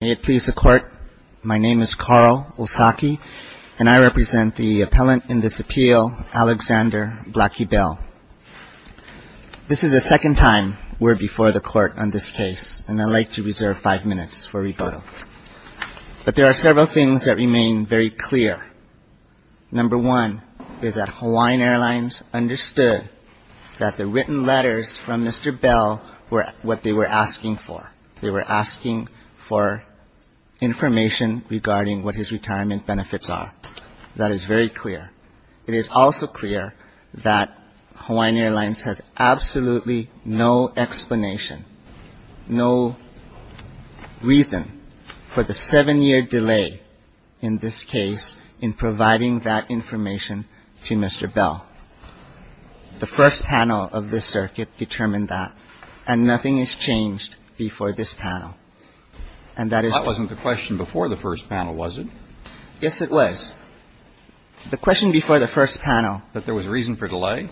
May it please the Court, my name is Carl Osaki, and I represent the appellant in this appeal, Alexander Blackie Bell. This is the second time we're before the Court on this case, and I'd like to reserve five minutes for rebuttal. But there are several things that remain very clear. Number one is that Hawaiian Airlines understood that the written letters from Mr. Bell are information regarding what his retirement benefits are. That is very clear. It is also clear that Hawaiian Airlines has absolutely no explanation, no reason for the seven-year delay in this case in providing that information to Mr. Bell. The first panel of this circuit determined that, and nothing has changed before this panel. And that is why we're Breyer. That wasn't the question before the first panel, was it? Osaki. Yes, it was. The question before the first panel was that there was a reason for delay.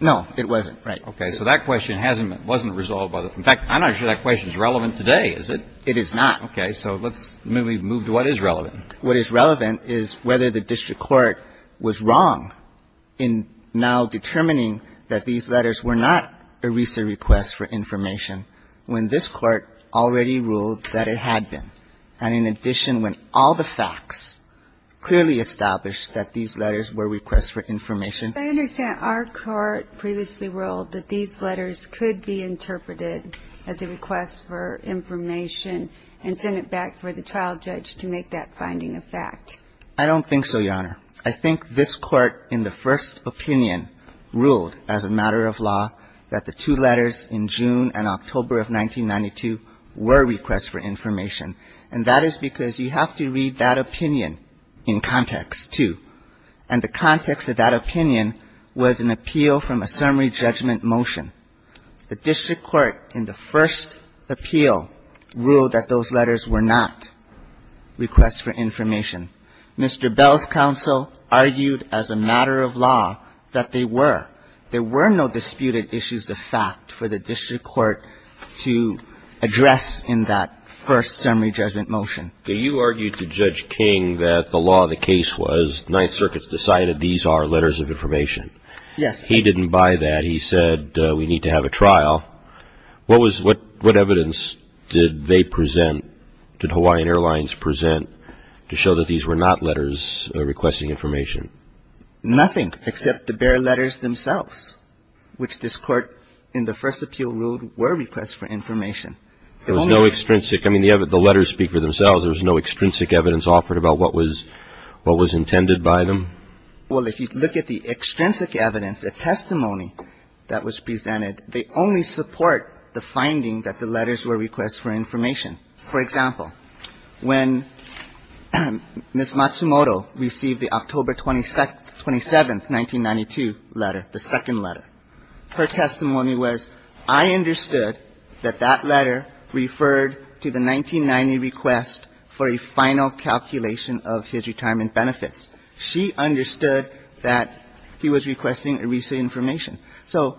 No, it wasn't. Right. Breyer. Okay. So that question hasn't been resolved by the Court. In fact, I'm not sure that question is relevant today, is it? Osaki. It is not. Breyer. Okay. So let's move to what is relevant. Osaki. What is relevant is whether the district court was wrong in now determining that these letters were not a RISA request for information when this Court already ruled that it had been, and in addition, when all the facts clearly established that these letters were requests for information. Ginsburg. I understand our Court previously ruled that these letters could be interpreted as a request for information and send it back for the trial judge to make that finding a fact. Osaki. I don't think so, Your Honor. I think this Court, in the first opinion, ruled as a matter of law that the two letters in June and October of 1992 were requests for information. And that is because you have to read that opinion in context, too. And the context of that opinion was an appeal from a summary judgment motion. The district court, in the first appeal, ruled that those letters were not requests for information. Mr. Bell's counsel argued as a matter of law that they were. There were no disputed issues of fact for the district court to address in that first summary judgment motion. Breyer. You argued to Judge King that the law of the case was the Ninth Circuit decided these are letters of information. Osaki. Yes. Breyer. He didn't buy that. He said we need to have a trial. What was what evidence did they present, did Hawaiian Airlines present, to show that these were not letters requesting information? Osaki. Nothing, except the bare letters themselves, which this Court, in the first appeal, ruled were requests for information. Breyer. There was no extrinsic – I mean, the letters speak for themselves. There was no extrinsic evidence offered about what was – what was intended by them? Osaki. Well, if you look at the extrinsic evidence, the testimony that was presented, they only support the finding that the letters were requests for information. For example, when Ms. Matsumoto received the October 27th, 1992 letter, the second letter, her testimony was, I understood that that letter referred to the 1990 request for a final calculation of his retirement benefits. She understood that he was requesting a recent information. So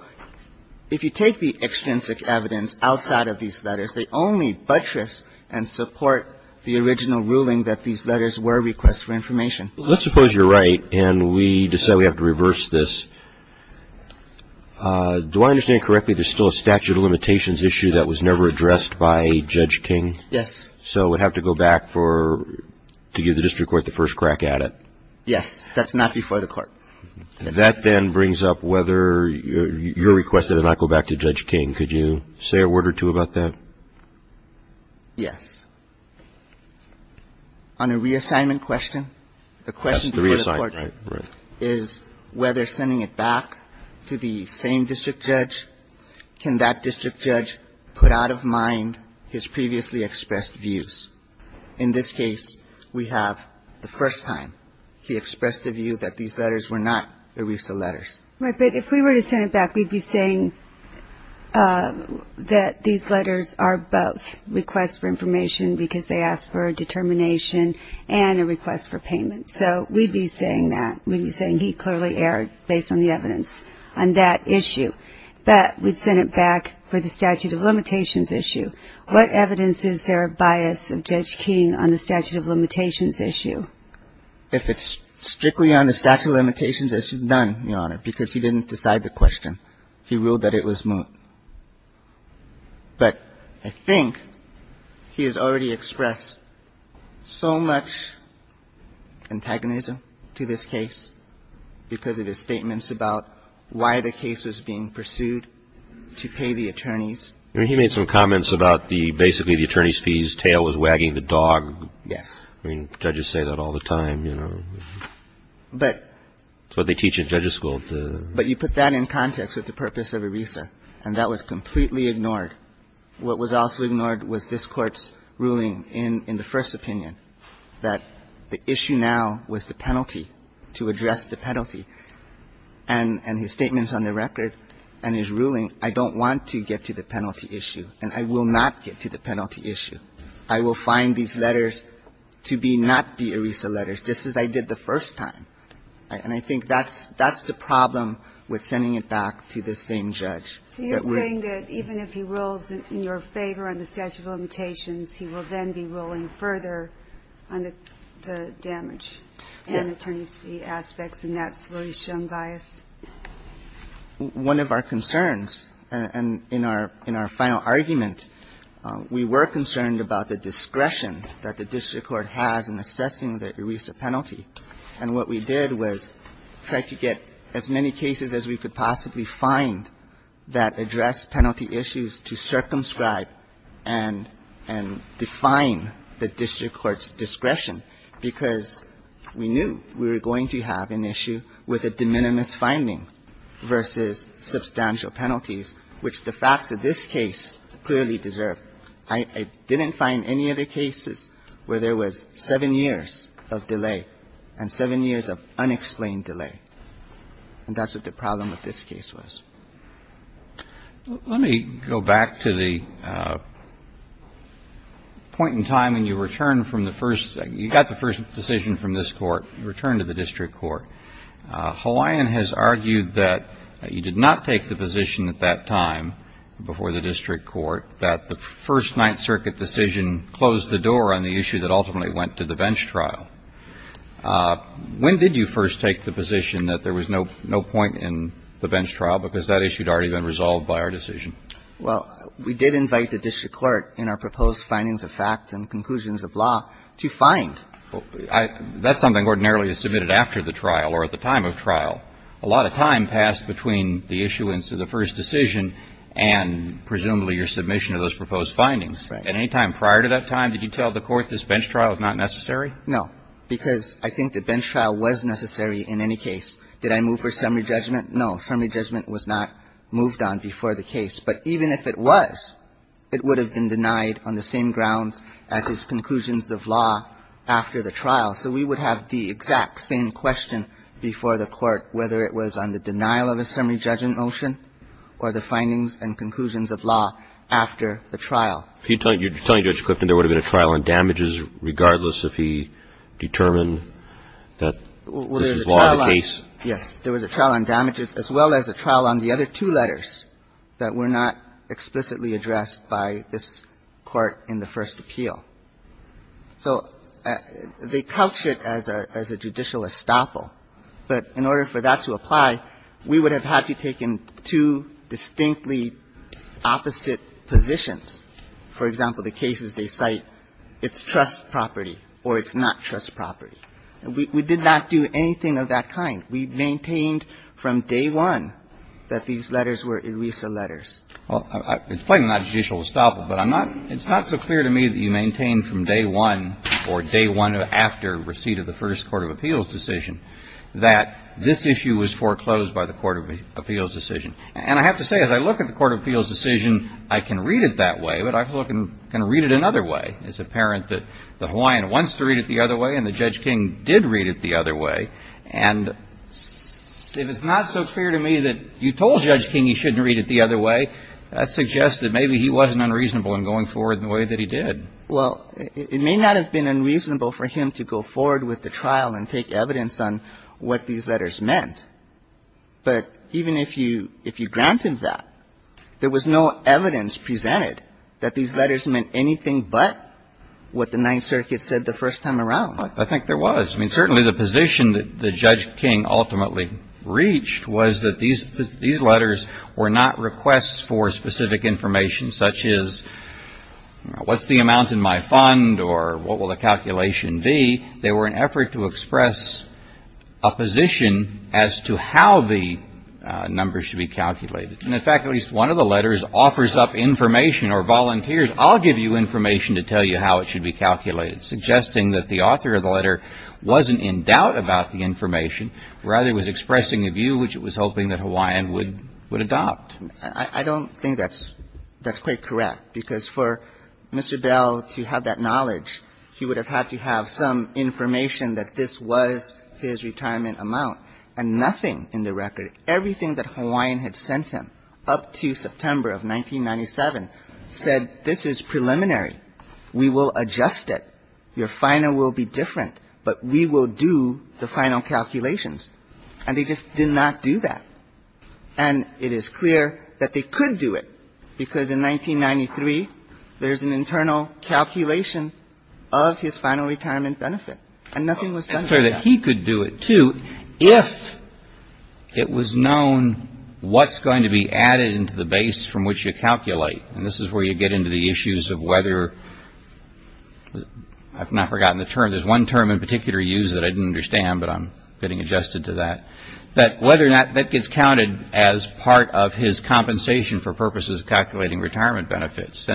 if you take the extrinsic evidence outside of these letters, they only buttress and support the original ruling that these letters were requests for information. Roberts. Let's suppose you're right, and we decide we have to reverse this. Do I understand correctly there's still a statute of limitations issue that was never addressed by Judge King? Osaki. Yes. Roberts. So we'd have to go back for – to give the district court the first crack at it? Osaki. Yes. That's not before the Court. Roberts. That then brings up whether you're requested to not go back to Judge King. Could you say a word or two about that? Osaki. Yes. On a reassignment question, the question before the Court is whether sending it back to the same district judge, can that district judge put out of mind his previously expressed views? In this case, we have the first time he expressed a view that these letters were not ERISA letters. Ginsburg. Right. But if we were to send it back, we'd be saying that these letters are both requests for information because they ask for a determination and a request for payment. So we'd be saying that. We'd be saying he clearly erred based on the evidence on that issue. But we'd send it back for the statute of limitations issue. What evidence is there of bias of Judge King on the statute of limitations issue? Osaki. If it's strictly on the statute of limitations, it's none, Your Honor, because he didn't decide the question. He ruled that it was moot. But I think he has already expressed so much antagonism to this case because of his statements about why the case was being pursued to pay the attorneys. I mean, he made some comments about the basically the attorney's fees, tail was wagging the dog. Yes. I mean, judges say that all the time, you know. But you put that in context with the purpose of ERISA, and that was completely ignored. What was also ignored was this Court's ruling in the first opinion that the issue now was the penalty, to address the penalty. And his statements on the record And I will not get to the penalty issue. I will find these letters to be not the ERISA letters, just as I did the first time. And I think that's the problem with sending it back to the same judge. So you're saying that even if he rules in your favor on the statute of limitations, he will then be ruling further on the damage and attorney's fee aspects, and that's where he's shown bias? One of our concerns, and in our final argument, we were concerned about the discretion that the district court has in assessing the ERISA penalty. And what we did was try to get as many cases as we could possibly find that address penalty issues to circumscribe and define the district court's discretion, because we knew we were going to have an issue with a de minimis finding versus substantial penalties, which the facts of this case clearly deserve. I didn't find any other cases where there was seven years of delay and seven years of unexplained delay. And that's what the problem with this case was. Let me go back to the point in time when you returned from the first you got the first decision from this Court, you returned to the district court. Hawaiian has argued that you did not take the position at that time before the district court that the first Ninth Circuit decision closed the door on the issue that ultimately went to the bench trial. When did you first take the position that there was no point in the bench trial, because that issue had already been resolved by our decision? Well, we did invite the district court in our proposed findings of facts and conclusions of law to find. That's something ordinarily is submitted after the trial or at the time of trial. A lot of time passed between the issuance of the first decision and presumably your submission of those proposed findings. Right. At any time prior to that time, did you tell the Court this bench trial is not necessary? No, because I think the bench trial was necessary in any case. Did I move for summary judgment? No, summary judgment was not moved on before the case. But even if it was, it would have been denied on the same grounds as his conclusions of law after the trial. So we would have the exact same question before the Court, whether it was on the denial of a summary judgment motion or the findings and conclusions of law after the trial. You're telling Judge Clifton there would have been a trial on damages regardless if he determined that this is law in the case? Well, there was a trial on damages as well as a trial on the other two letters that were not explicitly addressed by this Court in the first appeal. So they couch it as a judicial estoppel, but in order for that to apply, we would have had to take in two distinctly opposite positions. For example, the cases they cite, it's trust property or it's not trust property. We did not do anything of that kind. We maintained from day one that these letters were ERISA letters. Well, it's plainly not a judicial estoppel, but it's not so clear to me that you maintained from day one or day one after receipt of the first Court of Appeals decision that this issue was foreclosed by the Court of Appeals decision. And I have to say, as I look at the Court of Appeals decision, I can read it that way, but I can read it another way. It's apparent that the Hawaiian wants to read it the other way and that Judge King did read it the other way. And if it's not so clear to me that you told Judge King he shouldn't read it the other way, that suggests that maybe he wasn't unreasonable in going forward in the way that he did. Well, it may not have been unreasonable for him to go forward with the trial and take evidence on what these letters meant. But even if you granted that, there was no evidence presented that these letters meant anything but what the Ninth Circuit said the first time around. I think there was. I mean, certainly the position that Judge King ultimately reached was that these letters were not requests for specific information, such as, what's the amount in my fund or what will the calculation be? They were an effort to express a position as to how the numbers should be calculated. And in fact, at least one of the letters offers up information or volunteers, I'll give you information to tell you how it should be calculated, suggesting that the author of the letter wasn't in doubt about the information, rather was expressing a position that the Hawaiian would adopt. I don't think that's quite correct, because for Mr. Bell to have that knowledge, he would have had to have some information that this was his retirement amount and nothing in the record. Everything that Hawaiian had sent him up to September of 1997 said this is preliminary. We will adjust it. Your final will be different, but we will do the final calculations. And they just did not do that. And it is clear that they could do it, because in 1993, there's an internal calculation of his final retirement benefit, and nothing was done about it. It's clear that he could do it, too, if it was known what's going to be added into the base from which you calculate. And this is where you get into the issues of whether — I've now forgotten the term. There's one term in particular used that I didn't understand, but I'm getting adjusted to that, that whether or not that gets counted as part of his compensation for purposes of calculating retirement benefits.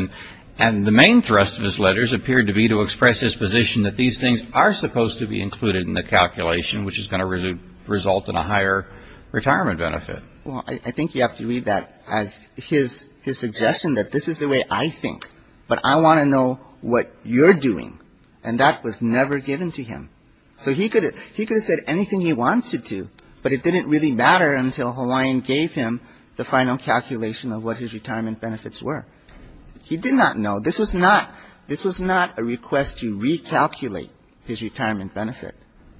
And the main thrust of his letters appeared to be to express his position that these things are supposed to be included in the calculation, which is going to result in a higher retirement benefit. Well, I think you have to read that as his suggestion that this is the way I think, but I want to know what you're doing. And that was never given to him. So he could have said anything he wanted to, but it didn't really matter until Hawaiian gave him the final calculation of what his retirement benefits were. He did not know. This was not a request to recalculate his retirement benefit.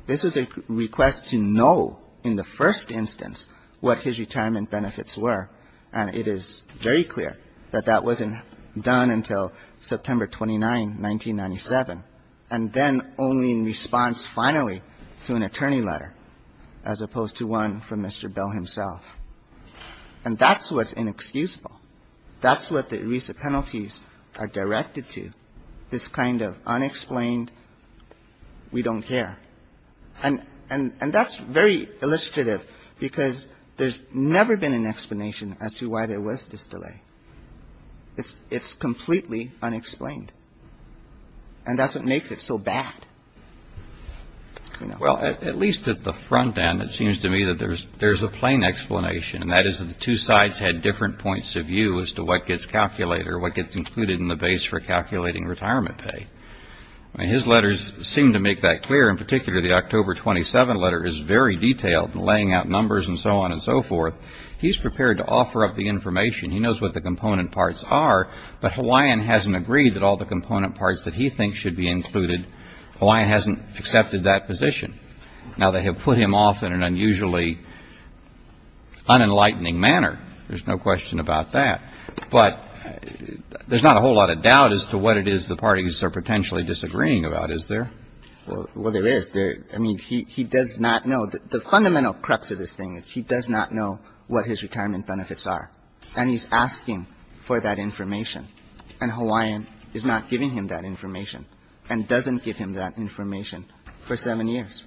This was a request to know in the first instance what his retirement benefits were, and it is very clear that that wasn't done until September 29, 1997. And then only in response finally to an attorney letter, as opposed to one from Mr. Bell himself. And that's what's inexcusable. That's what the ERISA penalties are directed to, this kind of unexplained, we don't care. And that's very illustrative because there's never been an explanation as to why there was this delay. It's completely unexplained. And that's what makes it so bad. Well, at least at the front end, it seems to me that there's a plain explanation, and that is that the two sides had different points of view as to what gets calculated or what gets included in the base for calculating retirement pay. I mean, his letters seem to make that clear. In particular, the October 27 letter is very detailed, laying out numbers and so on and so forth. He's prepared to offer up the information. He knows what the component parts are, but Hawaiian hasn't agreed that all the component parts that he thinks should be included, Hawaiian hasn't accepted that position. Now, they have put him off in an unusually unenlightening manner. There's no question about that. But there's not a whole lot of doubt as to what it is the parties are potentially disagreeing about, is there? Well, there is. I mean, he does not know. The fundamental crux of this thing is he does not know what his retirement benefits are, and he's asking for that information, and Hawaiian is not giving him that information and doesn't give him that information for seven years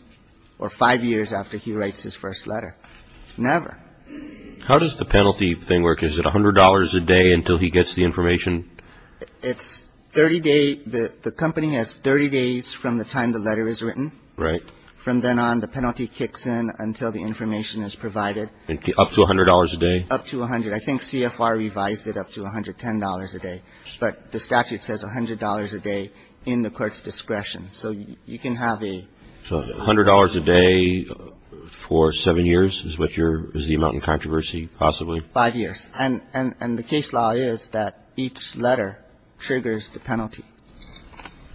or five years after he writes his first letter. Never. How does the penalty thing work? Is it $100 a day until he gets the information? It's 30 days. The company has 30 days from the time the letter is written. From then on, the penalty kicks in until the information is provided. Up to $100 a day? Up to $100. I think CFR revised it up to $110 a day, but the statute says $100 a day in the court's discretion. So you can have a ---- So $100 a day for seven years is what your ---- is the amount in controversy possibly? Five years. And the case law is that each letter triggers the penalty.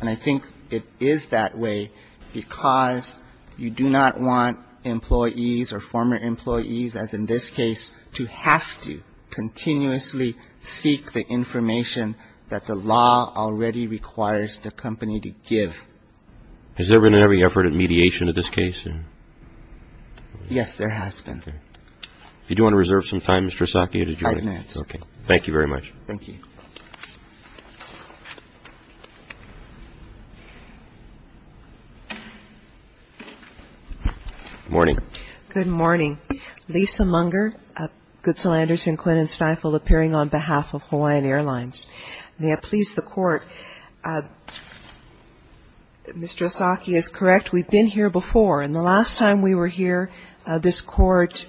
And I think it is that way because you do not want employees or former employees, as in this case, to have to continuously seek the information that the law already requires the company to give. Has there been any effort at mediation in this case? Yes, there has been. If you do want to reserve some time, Mr. Asaki, to join. Five minutes. Okay. Thank you very much. Thank you. Morning. Good morning. Lisa Munger, Goodsell Anderson, Quinn and Stifel, appearing on behalf of Hawaiian Airlines. May it please the Court, Mr. Asaki is correct. We've been here before. And the last time we were here, this Court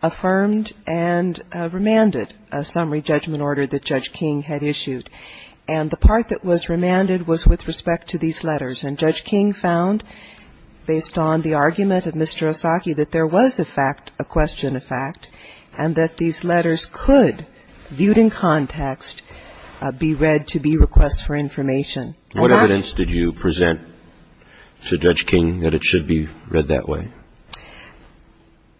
affirmed and remanded a summary judgment order that Judge King had issued. And the part that was remanded was with respect to these letters. And Judge King found, based on the argument of Mr. Asaki, that there was a fact, a question of fact, and that these letters could, viewed in context, be read to be requests for information. What evidence did you present to Judge King that it should be read that way?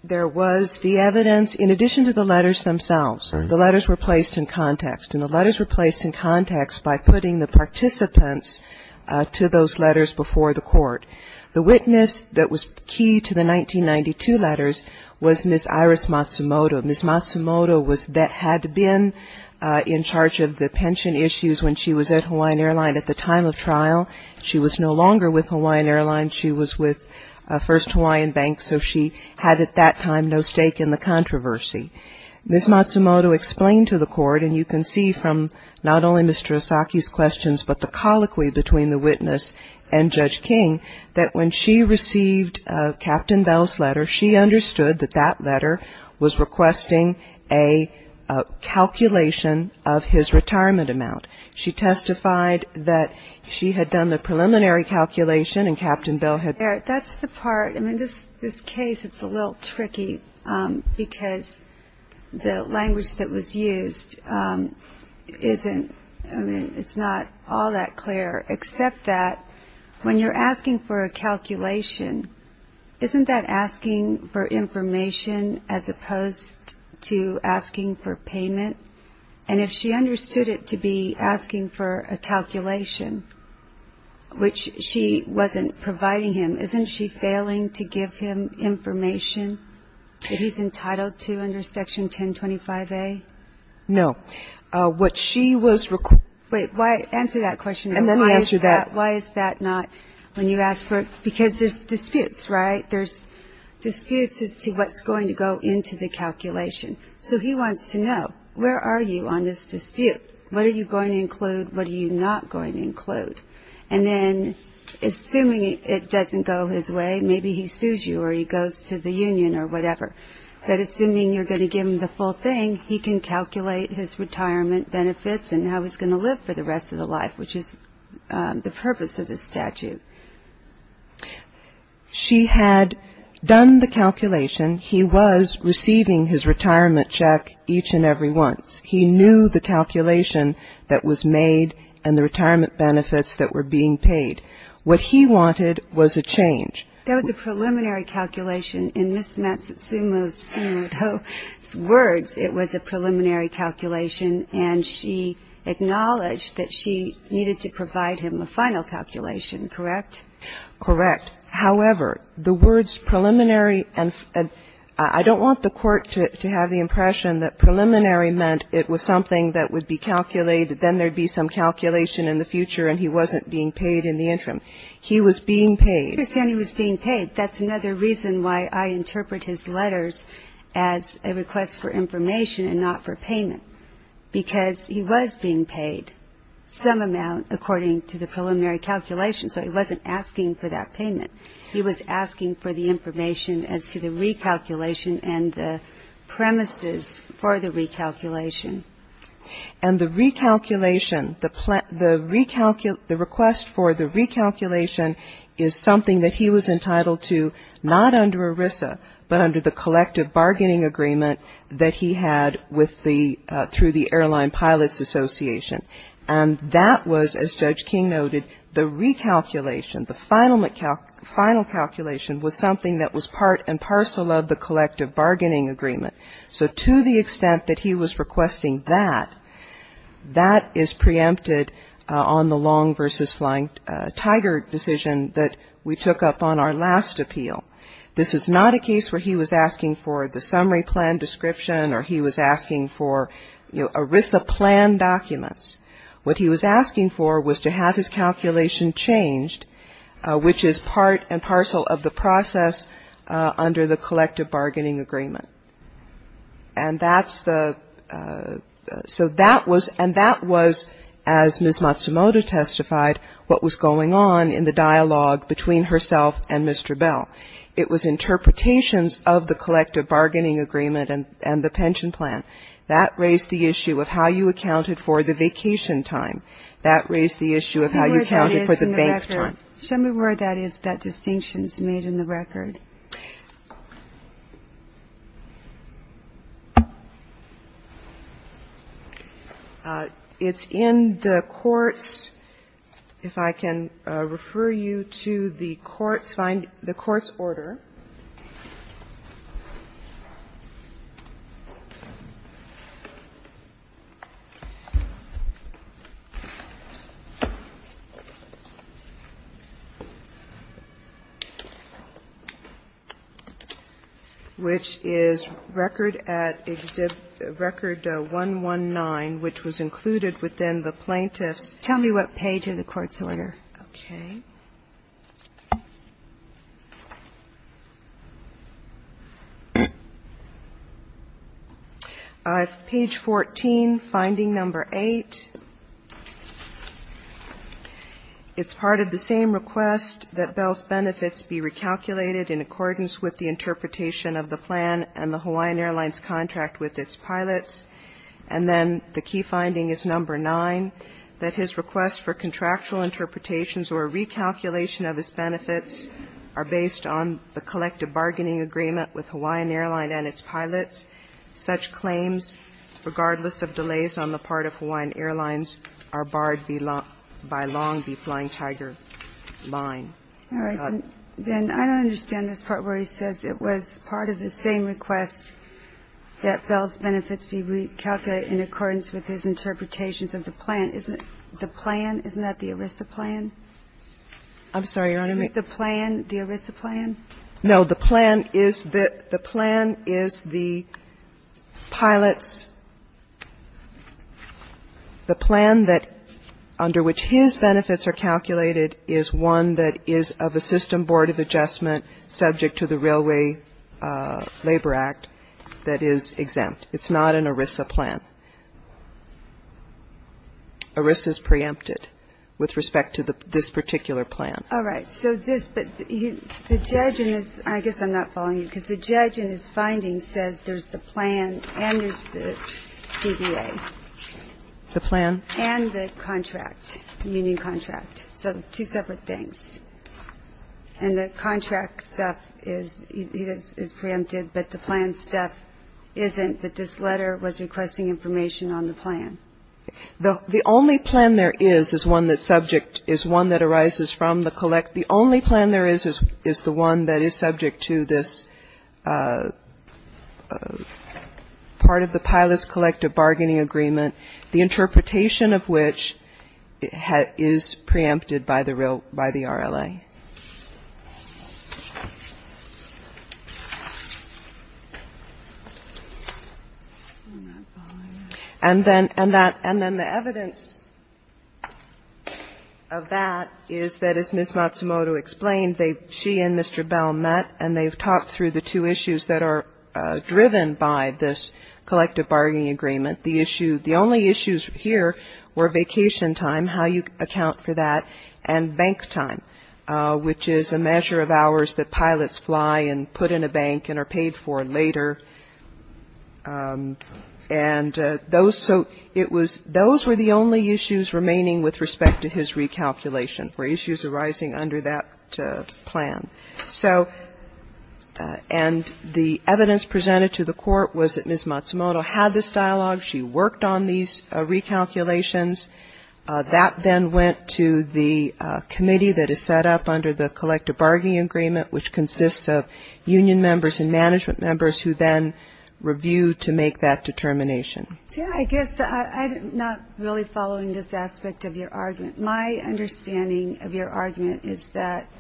There was the evidence, in addition to the letters themselves. The letters were placed in context. And the letters were placed in context by putting the participants to those letters before the Court. The witness that was key to the 1992 letters was Ms. Iris Matsumoto. Ms. Matsumoto was, had been in charge of the pension issues when she was at Hawaiian Airlines at the time of trial. She was no longer with Hawaiian Airlines. She was with First Hawaiian Bank. So she had, at that time, no stake in the controversy. Ms. Matsumoto explained to the Court, and you can see from not only Mr. Asaki's questions, but the colloquy between the witness and Judge King, that when she received Captain Bell's letter, she understood that that letter was requesting a calculation of his retirement amount. She testified that she had done the preliminary calculation, and Captain Bell had. Eric, that's the part, I mean, this case, it's a little tricky because the language that was used isn't, I mean, it's not all that clear, except that when you're asking for a calculation, isn't that asking for information as opposed to asking for payment? And if she understood it to be asking for a calculation, which she wasn't providing him, isn't she failing to give him information that he's entitled to under Section 1025A? No. What she was reques- Wait, why, answer that question. And let me answer that. Why is that not, when you ask for, because there's disputes, right? There's disputes as to what's going to go into the calculation. So he wants to know, where are you on this dispute? What are you going to include? What are you not going to include? And then, assuming it doesn't go his way, maybe he sues you or he goes to the union or whatever. But assuming you're going to give him the full thing, he can calculate his retirement benefits and how he's going to live for the rest of the life, which is the purpose of this statute. She had done the calculation. He was receiving his retirement check each and every once. He knew the calculation that was made and the retirement benefits that were being paid. What he wanted was a change. That was a preliminary calculation. In Ms. Matsumoto's words, it was a preliminary calculation, and she acknowledged that she needed to provide him a final calculation, correct? Correct. However, the words preliminary and – I don't want the Court to have the impression that preliminary meant it was something that would be calculated, then there would be some calculation in the future and he wasn't being paid in the interim. He was being paid. I understand he was being paid. That's another reason why I interpret his letters as a request for information and not for payment, because he was being paid some amount according to the preliminary calculation, so he wasn't asking for that payment. He was asking for the information as to the recalculation and the premises for the recalculation. And the recalculation, the request for the recalculation is something that he was entitled to not under ERISA, but under the collective bargaining agreement that he had with the – through the Airline Pilots Association. And that was, as Judge King noted, the recalculation, the final calculation was something that was part and parcel of the collective bargaining agreement. So to the extent that he was requesting that, that is preempted on the Long v. Flying Tiger decision that we took up on our last appeal. This is not a case where he was asking for the summary plan description or he was asking for ERISA plan documents. What he was asking for was to have his calculation changed, which is part and parcel of the process under the collective bargaining agreement. And that's the – so that was – and that was, as Ms. Matsumoto testified, what was going on in the dialogue between herself and Mr. Bell. It was interpretations of the collective bargaining agreement and the pension plan. That raised the issue of how you accounted for the vacation time. That raised the issue of how you accounted for the bank time. Ginsburg. Show me where that is, that distinction is made in the record. It's in the courts. If I can refer you to the courts, find the courts order, which is record at exhib record 119, which was included within the plaintiff's – Tell me what page of the courts order. Okay. Page 14, finding number 8. It's part of the same request that Bell's benefits be recalculated in accordance with the interpretation of the plan and the Hawaiian Airlines contract with its pilots. And then the key finding is number 9, that his request for contractual interpretations or recalculation of his benefits are based on the collective bargaining agreement with Hawaiian Airlines and its pilots. Such claims, regardless of delays on the part of Hawaiian Airlines, are barred by Long Beach Flying Tiger Line. All right. Then I don't understand this part where he says it was part of the same request that Bell's benefits be recalculated in accordance with his interpretations of the plan. Isn't the plan, isn't that the ERISA plan? I'm sorry, Your Honor. Is it the plan, the ERISA plan? No. The plan is the – the plan is the pilots' – the plan that under which his benefits are calculated is one that is of a system board of adjustment subject to the Railway Labor Act that is exempt. It's not an ERISA plan. ERISA is preempted with respect to this particular plan. All right. So this – but the judge in this – I guess I'm not following you because the judge in this finding says there's the plan and there's the CBA. The plan? And the contract, the union contract. So two separate things. And the contract stuff is – it is preempted, but the plan stuff isn't, that this letter was requesting information on the plan. The only plan there is is one that subject – is one that arises from the collect – the only plan there is is the one that is subject to this part of the pilots' collective bargaining agreement. The interpretation of which is preempted by the – by the RLA. And then – and that – and then the evidence of that is that, as Ms. Matsumoto explained, they – she and Mr. Bell met and they've talked through the two issues that are driven by this collective bargaining agreement. The issue – the only issues here were vacation time, how you account for that, and bank time, which is a measure of hours that pilots fly and put in a bank and are paid for later. And those – so it was – those were the only issues remaining with respect to his recalculation, were issues arising under that plan. So – and the evidence presented to the court was that Ms. Matsumoto had this dialogue, she worked on these recalculations. That then went to the committee that is set up under the collective bargaining agreement, which consists of union members and management members who then review to make that determination. So I guess I'm not really following this aspect of your argument. My understanding of your argument is that –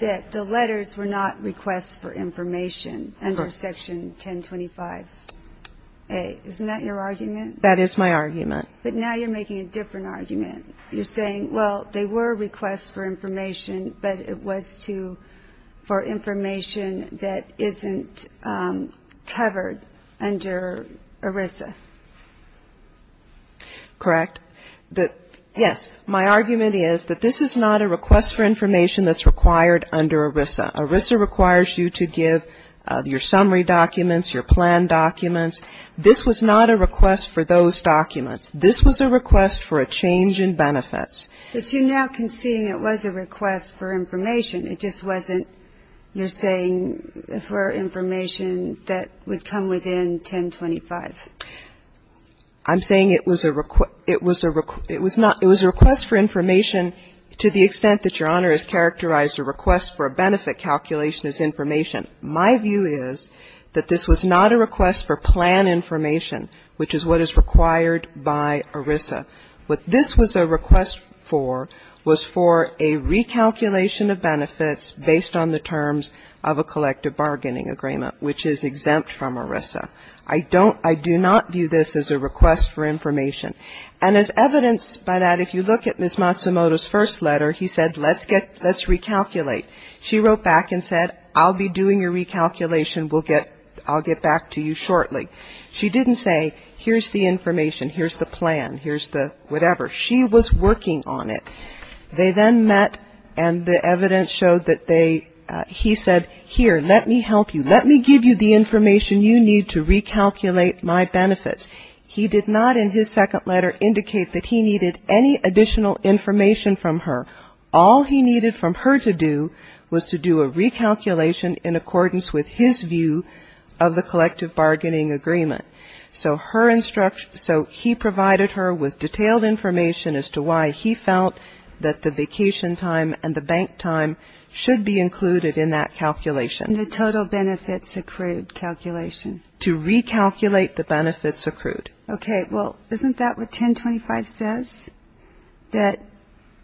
that the letters were not requests for information under Section 1025A. Isn't that your argument? That is my argument. But now you're making a different argument. You're saying, well, they were requests for information, but it was to – for information that isn't covered under ERISA. Correct. The – yes. My argument is that this is not a request for information that's required under ERISA. ERISA requires you to give your summary documents, your plan documents. This was not a request for those documents. This was a request for a change in benefits. But you're now conceding it was a request for information. It just wasn't, you're saying, for information that would come within 1025. I'm saying it was a – it was a – it was not – it was a request for information to the extent that Your Honor has characterized a request for a benefit calculation as information. My view is that this was not a request for plan information, which is what is required by ERISA. What this was a request for was for a recalculation of benefits based on the terms of a collective bargaining agreement, which is exempt from ERISA. I don't – I do not view this as a request for information. And as evidenced by that, if you look at Ms. Matsumoto's first letter, he said, let's get – let's recalculate. She wrote back and said, I'll be doing your recalculation. We'll get – I'll get back to you shortly. She didn't say, here's the information, here's the plan, here's the whatever. She was working on it. They then met and the evidence showed that they – he said, here, let me help you. Let me give you the information you need to recalculate my benefits. He did not in his second letter indicate that he needed any additional information from her. All he needed from her to do was to do a recalculation in accordance with his view of the collective bargaining agreement. So her instruction – so he provided her with detailed information as to why he felt that the vacation time and the bank time should be included in that calculation. The total benefits accrued calculation. To recalculate the benefits accrued. Okay, well, isn't that what 1025 says? That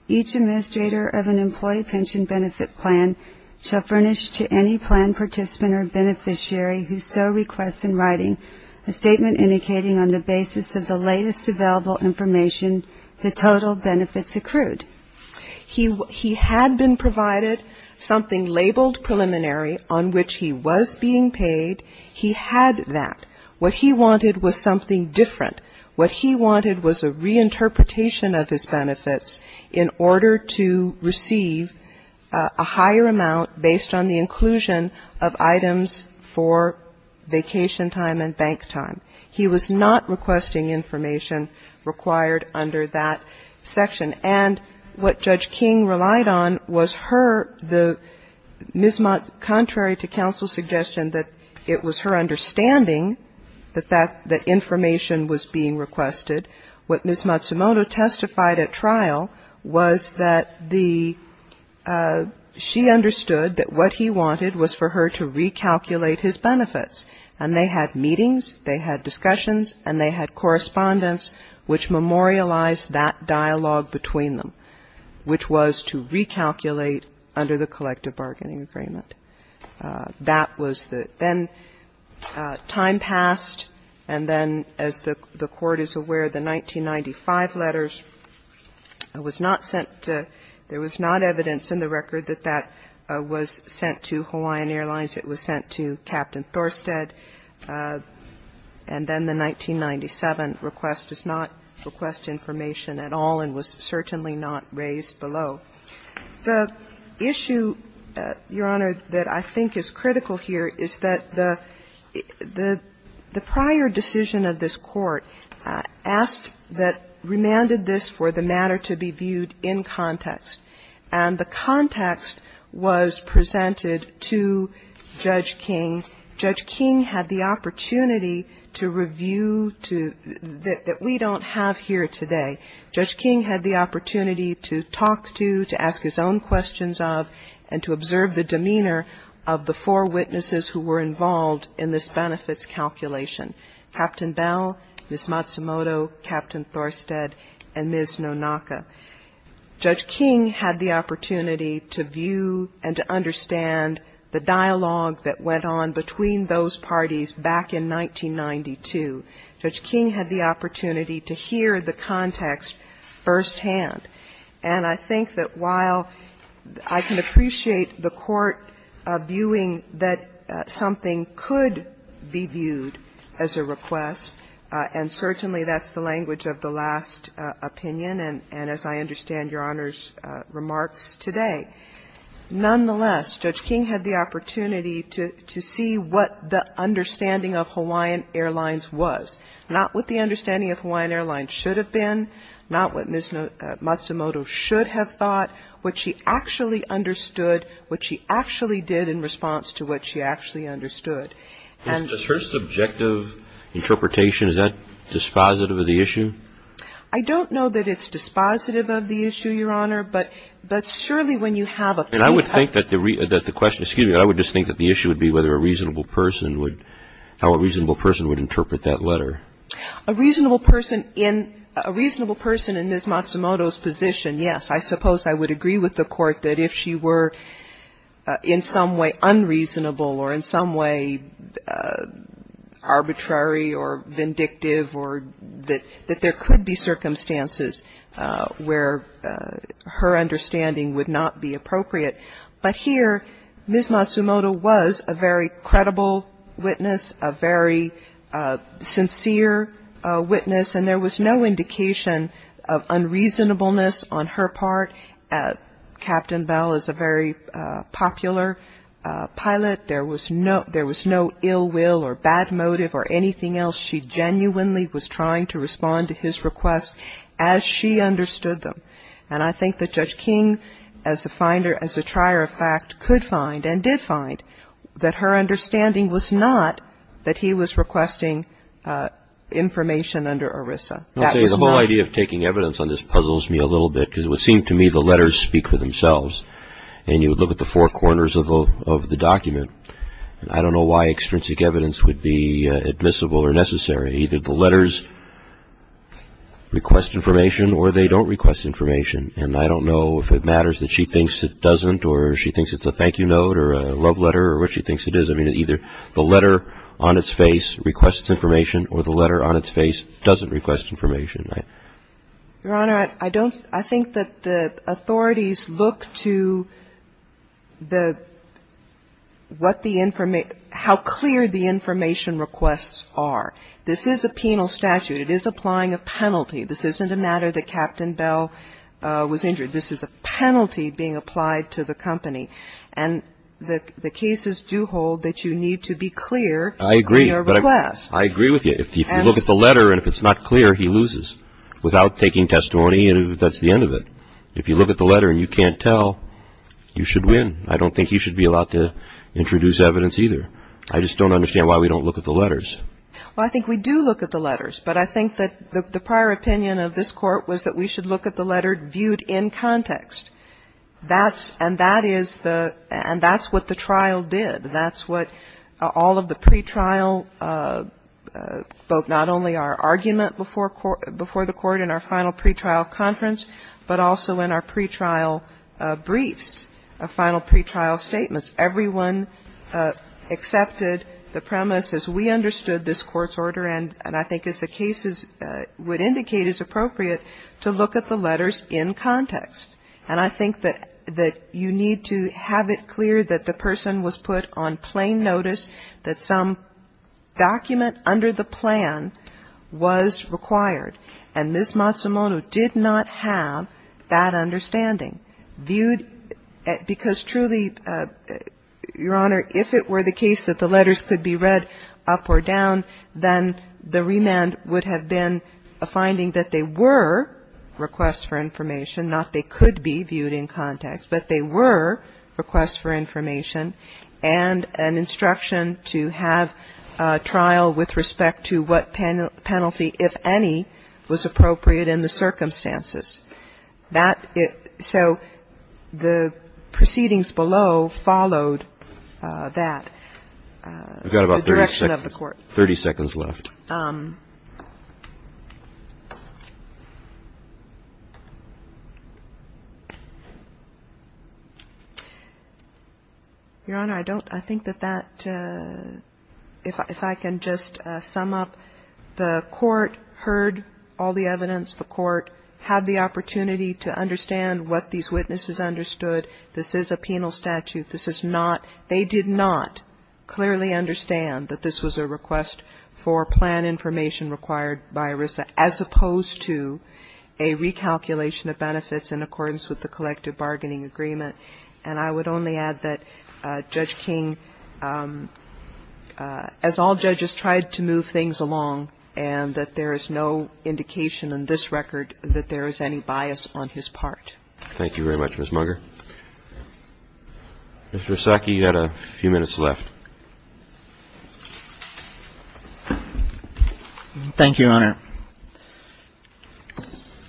each administrator of an employee pension benefit plan shall furnish to any plan participant or beneficiary who so requests in writing a statement indicating on the basis of the latest available information the total benefits accrued. He – he had been provided something labeled preliminary on which he was being paid. He had that. What he wanted was something different. What he wanted was a reinterpretation of his benefits in order to receive a higher amount based on the inclusion of items for vacation time and bank time. He was not requesting information required under that section. And what Judge King relied on was her – the – Ms. Mott, contrary to counsel's suggestion that it was her understanding that that – that information was being requested, what Ms. Matsumoto testified at trial was that the – she understood that what he wanted was for her to recalculate his benefits. And they had meetings, they had discussions, and they had correspondence which memorialized that dialogue between them, which was to recalculate under the collective bargaining agreement. That was the – then time passed, and then as the – the Court is aware, the 1995 letters was not sent to – there was not evidence in the record that that was sent to Hawaiian Airlines, it was sent to Captain Thorstedt, and then the 1997 request does not request information at all and was certainly not raised below. The issue, Your Honor, that I think is critical here is that the – the prior decision of this Court asked that – remanded this for the matter to be viewed in context, and the context was presented to Judge King. Judge King had the opportunity to review to – that we don't have here today. Judge King had the opportunity to talk to, to ask his own questions of, and to observe the demeanor of the four witnesses who were involved in this benefits calculation, Captain Bell, Ms. Matsumoto, Captain Thorstedt, and Ms. Nonaka. Judge King had the opportunity to view and to understand the dialogue that went on between those parties back in 1992. Judge King had the opportunity to hear the context firsthand. And I think that while I can appreciate the Court viewing that something could be viewed as a request, and certainly that's the language of the last opinion, and as I understand Your Honor's remarks today, nonetheless, Judge King had the opportunity to see what the understanding of Hawaiian Airlines was, not what the understanding of Hawaiian Airlines should have been, not what Ms. Matsumoto should have thought, what she actually understood, what she actually did in response to what she actually understood. And the first subjective interpretation, is that dispositive of the issue? I don't know that it's dispositive of the issue, Your Honor. And I would think that the question, excuse me, I would just think that the issue would be whether a reasonable person would, how a reasonable person would interpret that letter. A reasonable person in Ms. Matsumoto's position, yes, I suppose I would agree with the Court that if she were in some way unreasonable or in some way arbitrary or vindictive or that there could be circumstances where her understanding would not be appropriate. But here, Ms. Matsumoto was a very credible witness, a very sincere witness, and there was no indication of unreasonableness on her part. Captain Bell is a very popular pilot. There was no ill will or bad motive or anything else. She genuinely was trying to respond to his request as she understood them. And I think that Judge King, as a finder, as a trier of fact, could find and did find that her understanding was not that he was requesting information under ERISA. That was not. Okay. The whole idea of taking evidence on this puzzles me a little bit, because it would seem to me the letters speak for themselves. And you would look at the four corners of the document. I don't know why extrinsic evidence would be admissible or necessary. Either the letters request information or they don't request information. And I don't know if it matters that she thinks it doesn't or she thinks it's a thank you note or a love letter or what she thinks it is. I mean, either the letter on its face requests information or the letter on its face doesn't request information. Your Honor, I don't – I think that the authorities look to the – what the – how clear the information requests are. This is a penal statute. It is applying a penalty. This isn't a matter that Captain Bell was injured. This is a penalty being applied to the company. And the cases do hold that you need to be clear in your request. I agree. I agree with you. If you look at the letter and if it's not clear, he loses without taking testimony and that's the end of it. If you look at the letter and you can't tell, you should win. I don't think he should be allowed to introduce evidence either. I just don't understand why we don't look at the letters. Well, I think we do look at the letters. But I think that the prior opinion of this Court was that we should look at the letter viewed in context. That's – and that is the – and that's what the trial did. That's what all of the pretrial, both not only our argument before the Court in our final pretrial conference, but also in our pretrial briefs, final pretrial statements, everyone accepted the premise as we understood this Court's order and I think as the cases would indicate is appropriate to look at the letters in context. And I think that you need to have it clear that the person was put on plain notice that some document under the plan was required. And this Matsumoto did not have that understanding. Viewed – because truly, Your Honor, if it were the case that the letters could be read up or down, then the remand would have been a finding that they were requests for information, not they could be viewed in context, but they were requests for information and an instruction to have trial with respect to what penalty, if any, was appropriate in the circumstances. That – so the proceedings below followed that. The direction of the Court. 30 seconds left. Your Honor, I don't – I think that that – if I can just sum up. The Court heard all the evidence. The Court had the opportunity to understand what these witnesses understood. This is a penal statute. This is not – they did not clearly understand that this was a request for plan information required by ERISA, as opposed to a recalculation of benefits in accordance with the collective bargaining agreement. And I would only add that Judge King, as all judges, tried to move things along and that there is no indication in this record that there is any bias on his part. Thank you very much, Ms. Munger. Mr. Iwasaki, you've got a few minutes left. Thank you, Your Honor.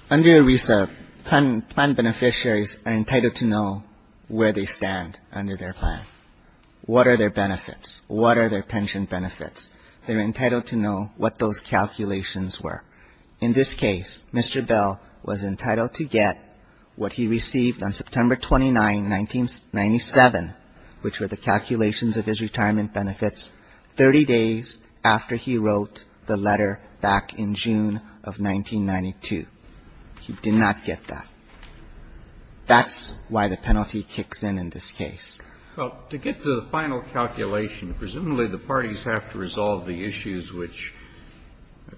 Under ERISA, plan beneficiaries are entitled to know where they stand under their plan. What are their benefits? What are their pension benefits? They're entitled to know what those calculations were. In this case, Mr. Bell was entitled to get what he received on September 29, 1997, which were the calculations of his retirement benefits 30 days after he wrote the letter back in June of 1992. He did not get that. That's why the penalty kicks in in this case. Well, to get to the final calculation, presumably the parties have to resolve the issues which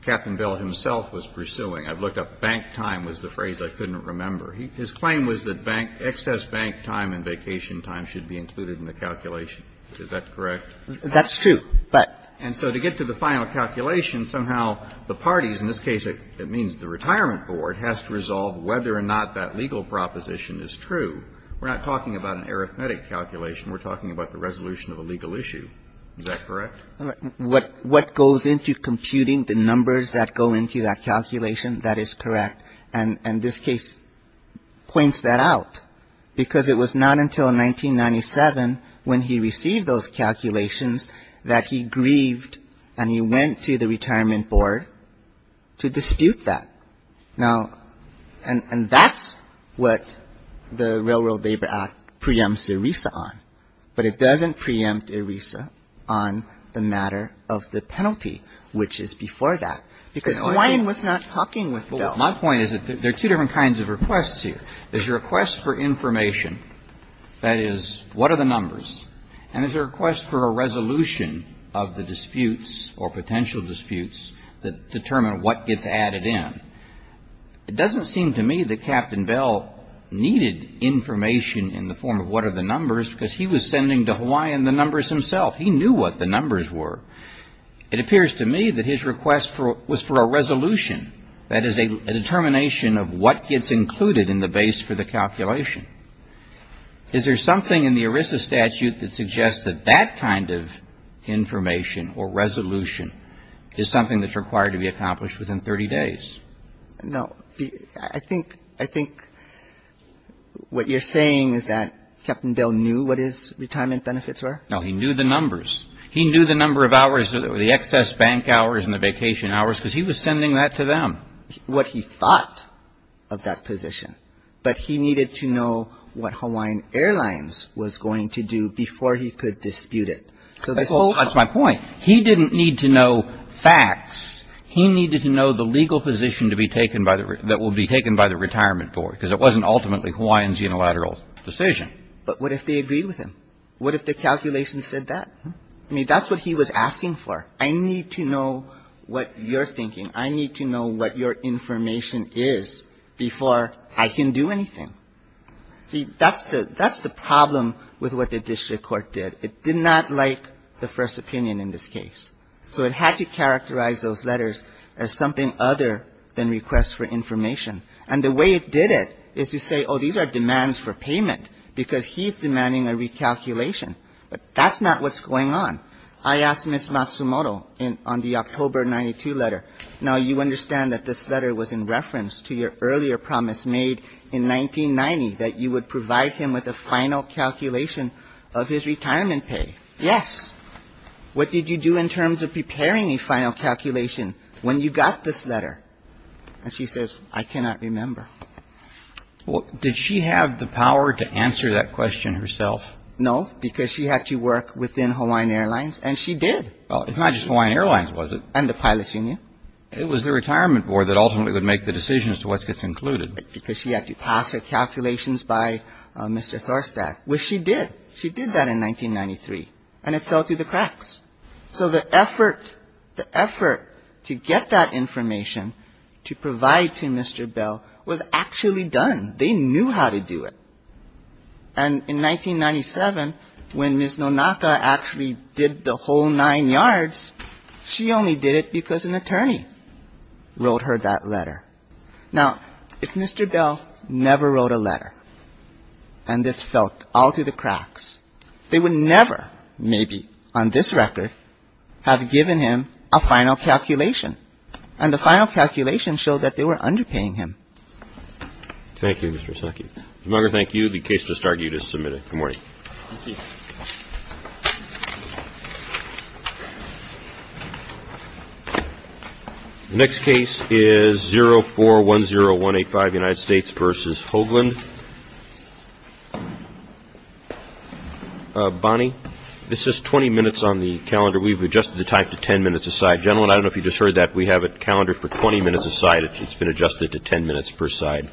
Captain Bell himself was pursuing. I've looked up bank time was the phrase I couldn't remember. His claim was that excess bank time and vacation time should be included in the calculation. Is that correct? That's true, but to get to the final calculation, somehow the parties, in this case it means the retirement board, has to resolve whether or not that legal proposition is true. We're not talking about an arithmetic calculation. We're talking about the resolution of a legal issue. Is that correct? What goes into computing the numbers that go into that calculation, that is correct. And this case points that out, because it was not until 1997 when he received those calculations that he grieved and he went to the retirement board to dispute that. Now, and that's what the Railroad Labor Act preempts ERISA on, but it doesn't preempt ERISA on the matter of the penalty, which is before that. Because Hawaiian was not talking with Bell. My point is that there are two different kinds of requests here. There's a request for information, that is, what are the numbers, and there's a request for a resolution of the disputes or potential disputes that determine what gets added in. It doesn't seem to me that Captain Bell needed information in the form of what are the numbers because he was sending to Hawaiian the numbers himself. He knew what the numbers were. It appears to me that his request was for a resolution, that is, a determination of what gets included in the base for the calculation. Is there something in the ERISA statute that suggests that that kind of information or resolution is something that's required to be accomplished within 30 days? No. I think what you're saying is that Captain Bell knew what his retirement benefits were? No, he knew the numbers. He knew the number of hours or the excess bank hours and the vacation hours because he was sending that to them. What he thought of that position, but he needed to know what Hawaiian Airlines was going to do before he could dispute it. That's my point. He didn't need to know facts. He needed to know the legal position that will be taken by the retirement board because it wasn't ultimately Hawaiian's unilateral decision. But what if they agreed with him? What if the calculation said that? I mean, that's what he was asking for. I need to know what you're thinking. I need to know what your information is before I can do anything. See, that's the problem with what the district court did. It did not like the first opinion in this case. So it had to characterize those letters as something other than requests for information. And the way it did it is to say, oh, these are demands for payment because he's demanding a recalculation. But that's not what's going on. I asked Ms. Matsumoto on the October 92 letter. Now, you understand that this letter was in reference to your earlier promise made in 1990 that you would provide him with a final calculation of his retirement pay. Yes. What did you do in terms of preparing a final calculation when you got this letter? And she says, I cannot remember. Well, did she have the power to answer that question herself? No, because she had to work within Hawaiian Airlines, and she did. Well, it's not just Hawaiian Airlines, was it? And the pilots union. It was the retirement board that ultimately would make the decisions to what gets included. Because she had to pass her calculations by Mr. Thorstadt, which she did. She did that in 1993. And it fell through the cracks. So the effort, the effort to get that information to provide to Mr. Bell was actually done. They knew how to do it. And in 1997, when Ms. Nonaka actually did the whole nine yards, she only did it because an attorney wrote her that letter. Now, if Mr. Bell never wrote a letter and this fell all through the cracks, they would never, maybe on this record, have given him a final calculation. And the final calculation showed that they were underpaying him. Thank you, Mr. Saki. Mr. Munger, thank you. The case is started. You just submitted it. Good morning. Thank you. The next case is 0410185, United States v. Hoagland. Bonnie, this is 20 minutes on the calendar. We've adjusted the time to 10 minutes a side. Gentlemen, I don't know if you just heard that. We have it calendared for 20 minutes a side. It's been adjusted to 10 minutes per side.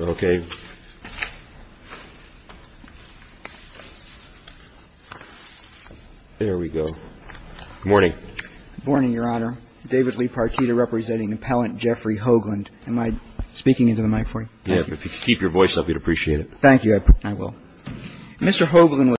Okay. There we go. Good morning. Good morning, Your Honor. David Lee Partita representing Appellant Jeffrey Hoagland. Am I speaking into the microphone? Thank you. If you could keep your voice up, we'd appreciate it. Thank you.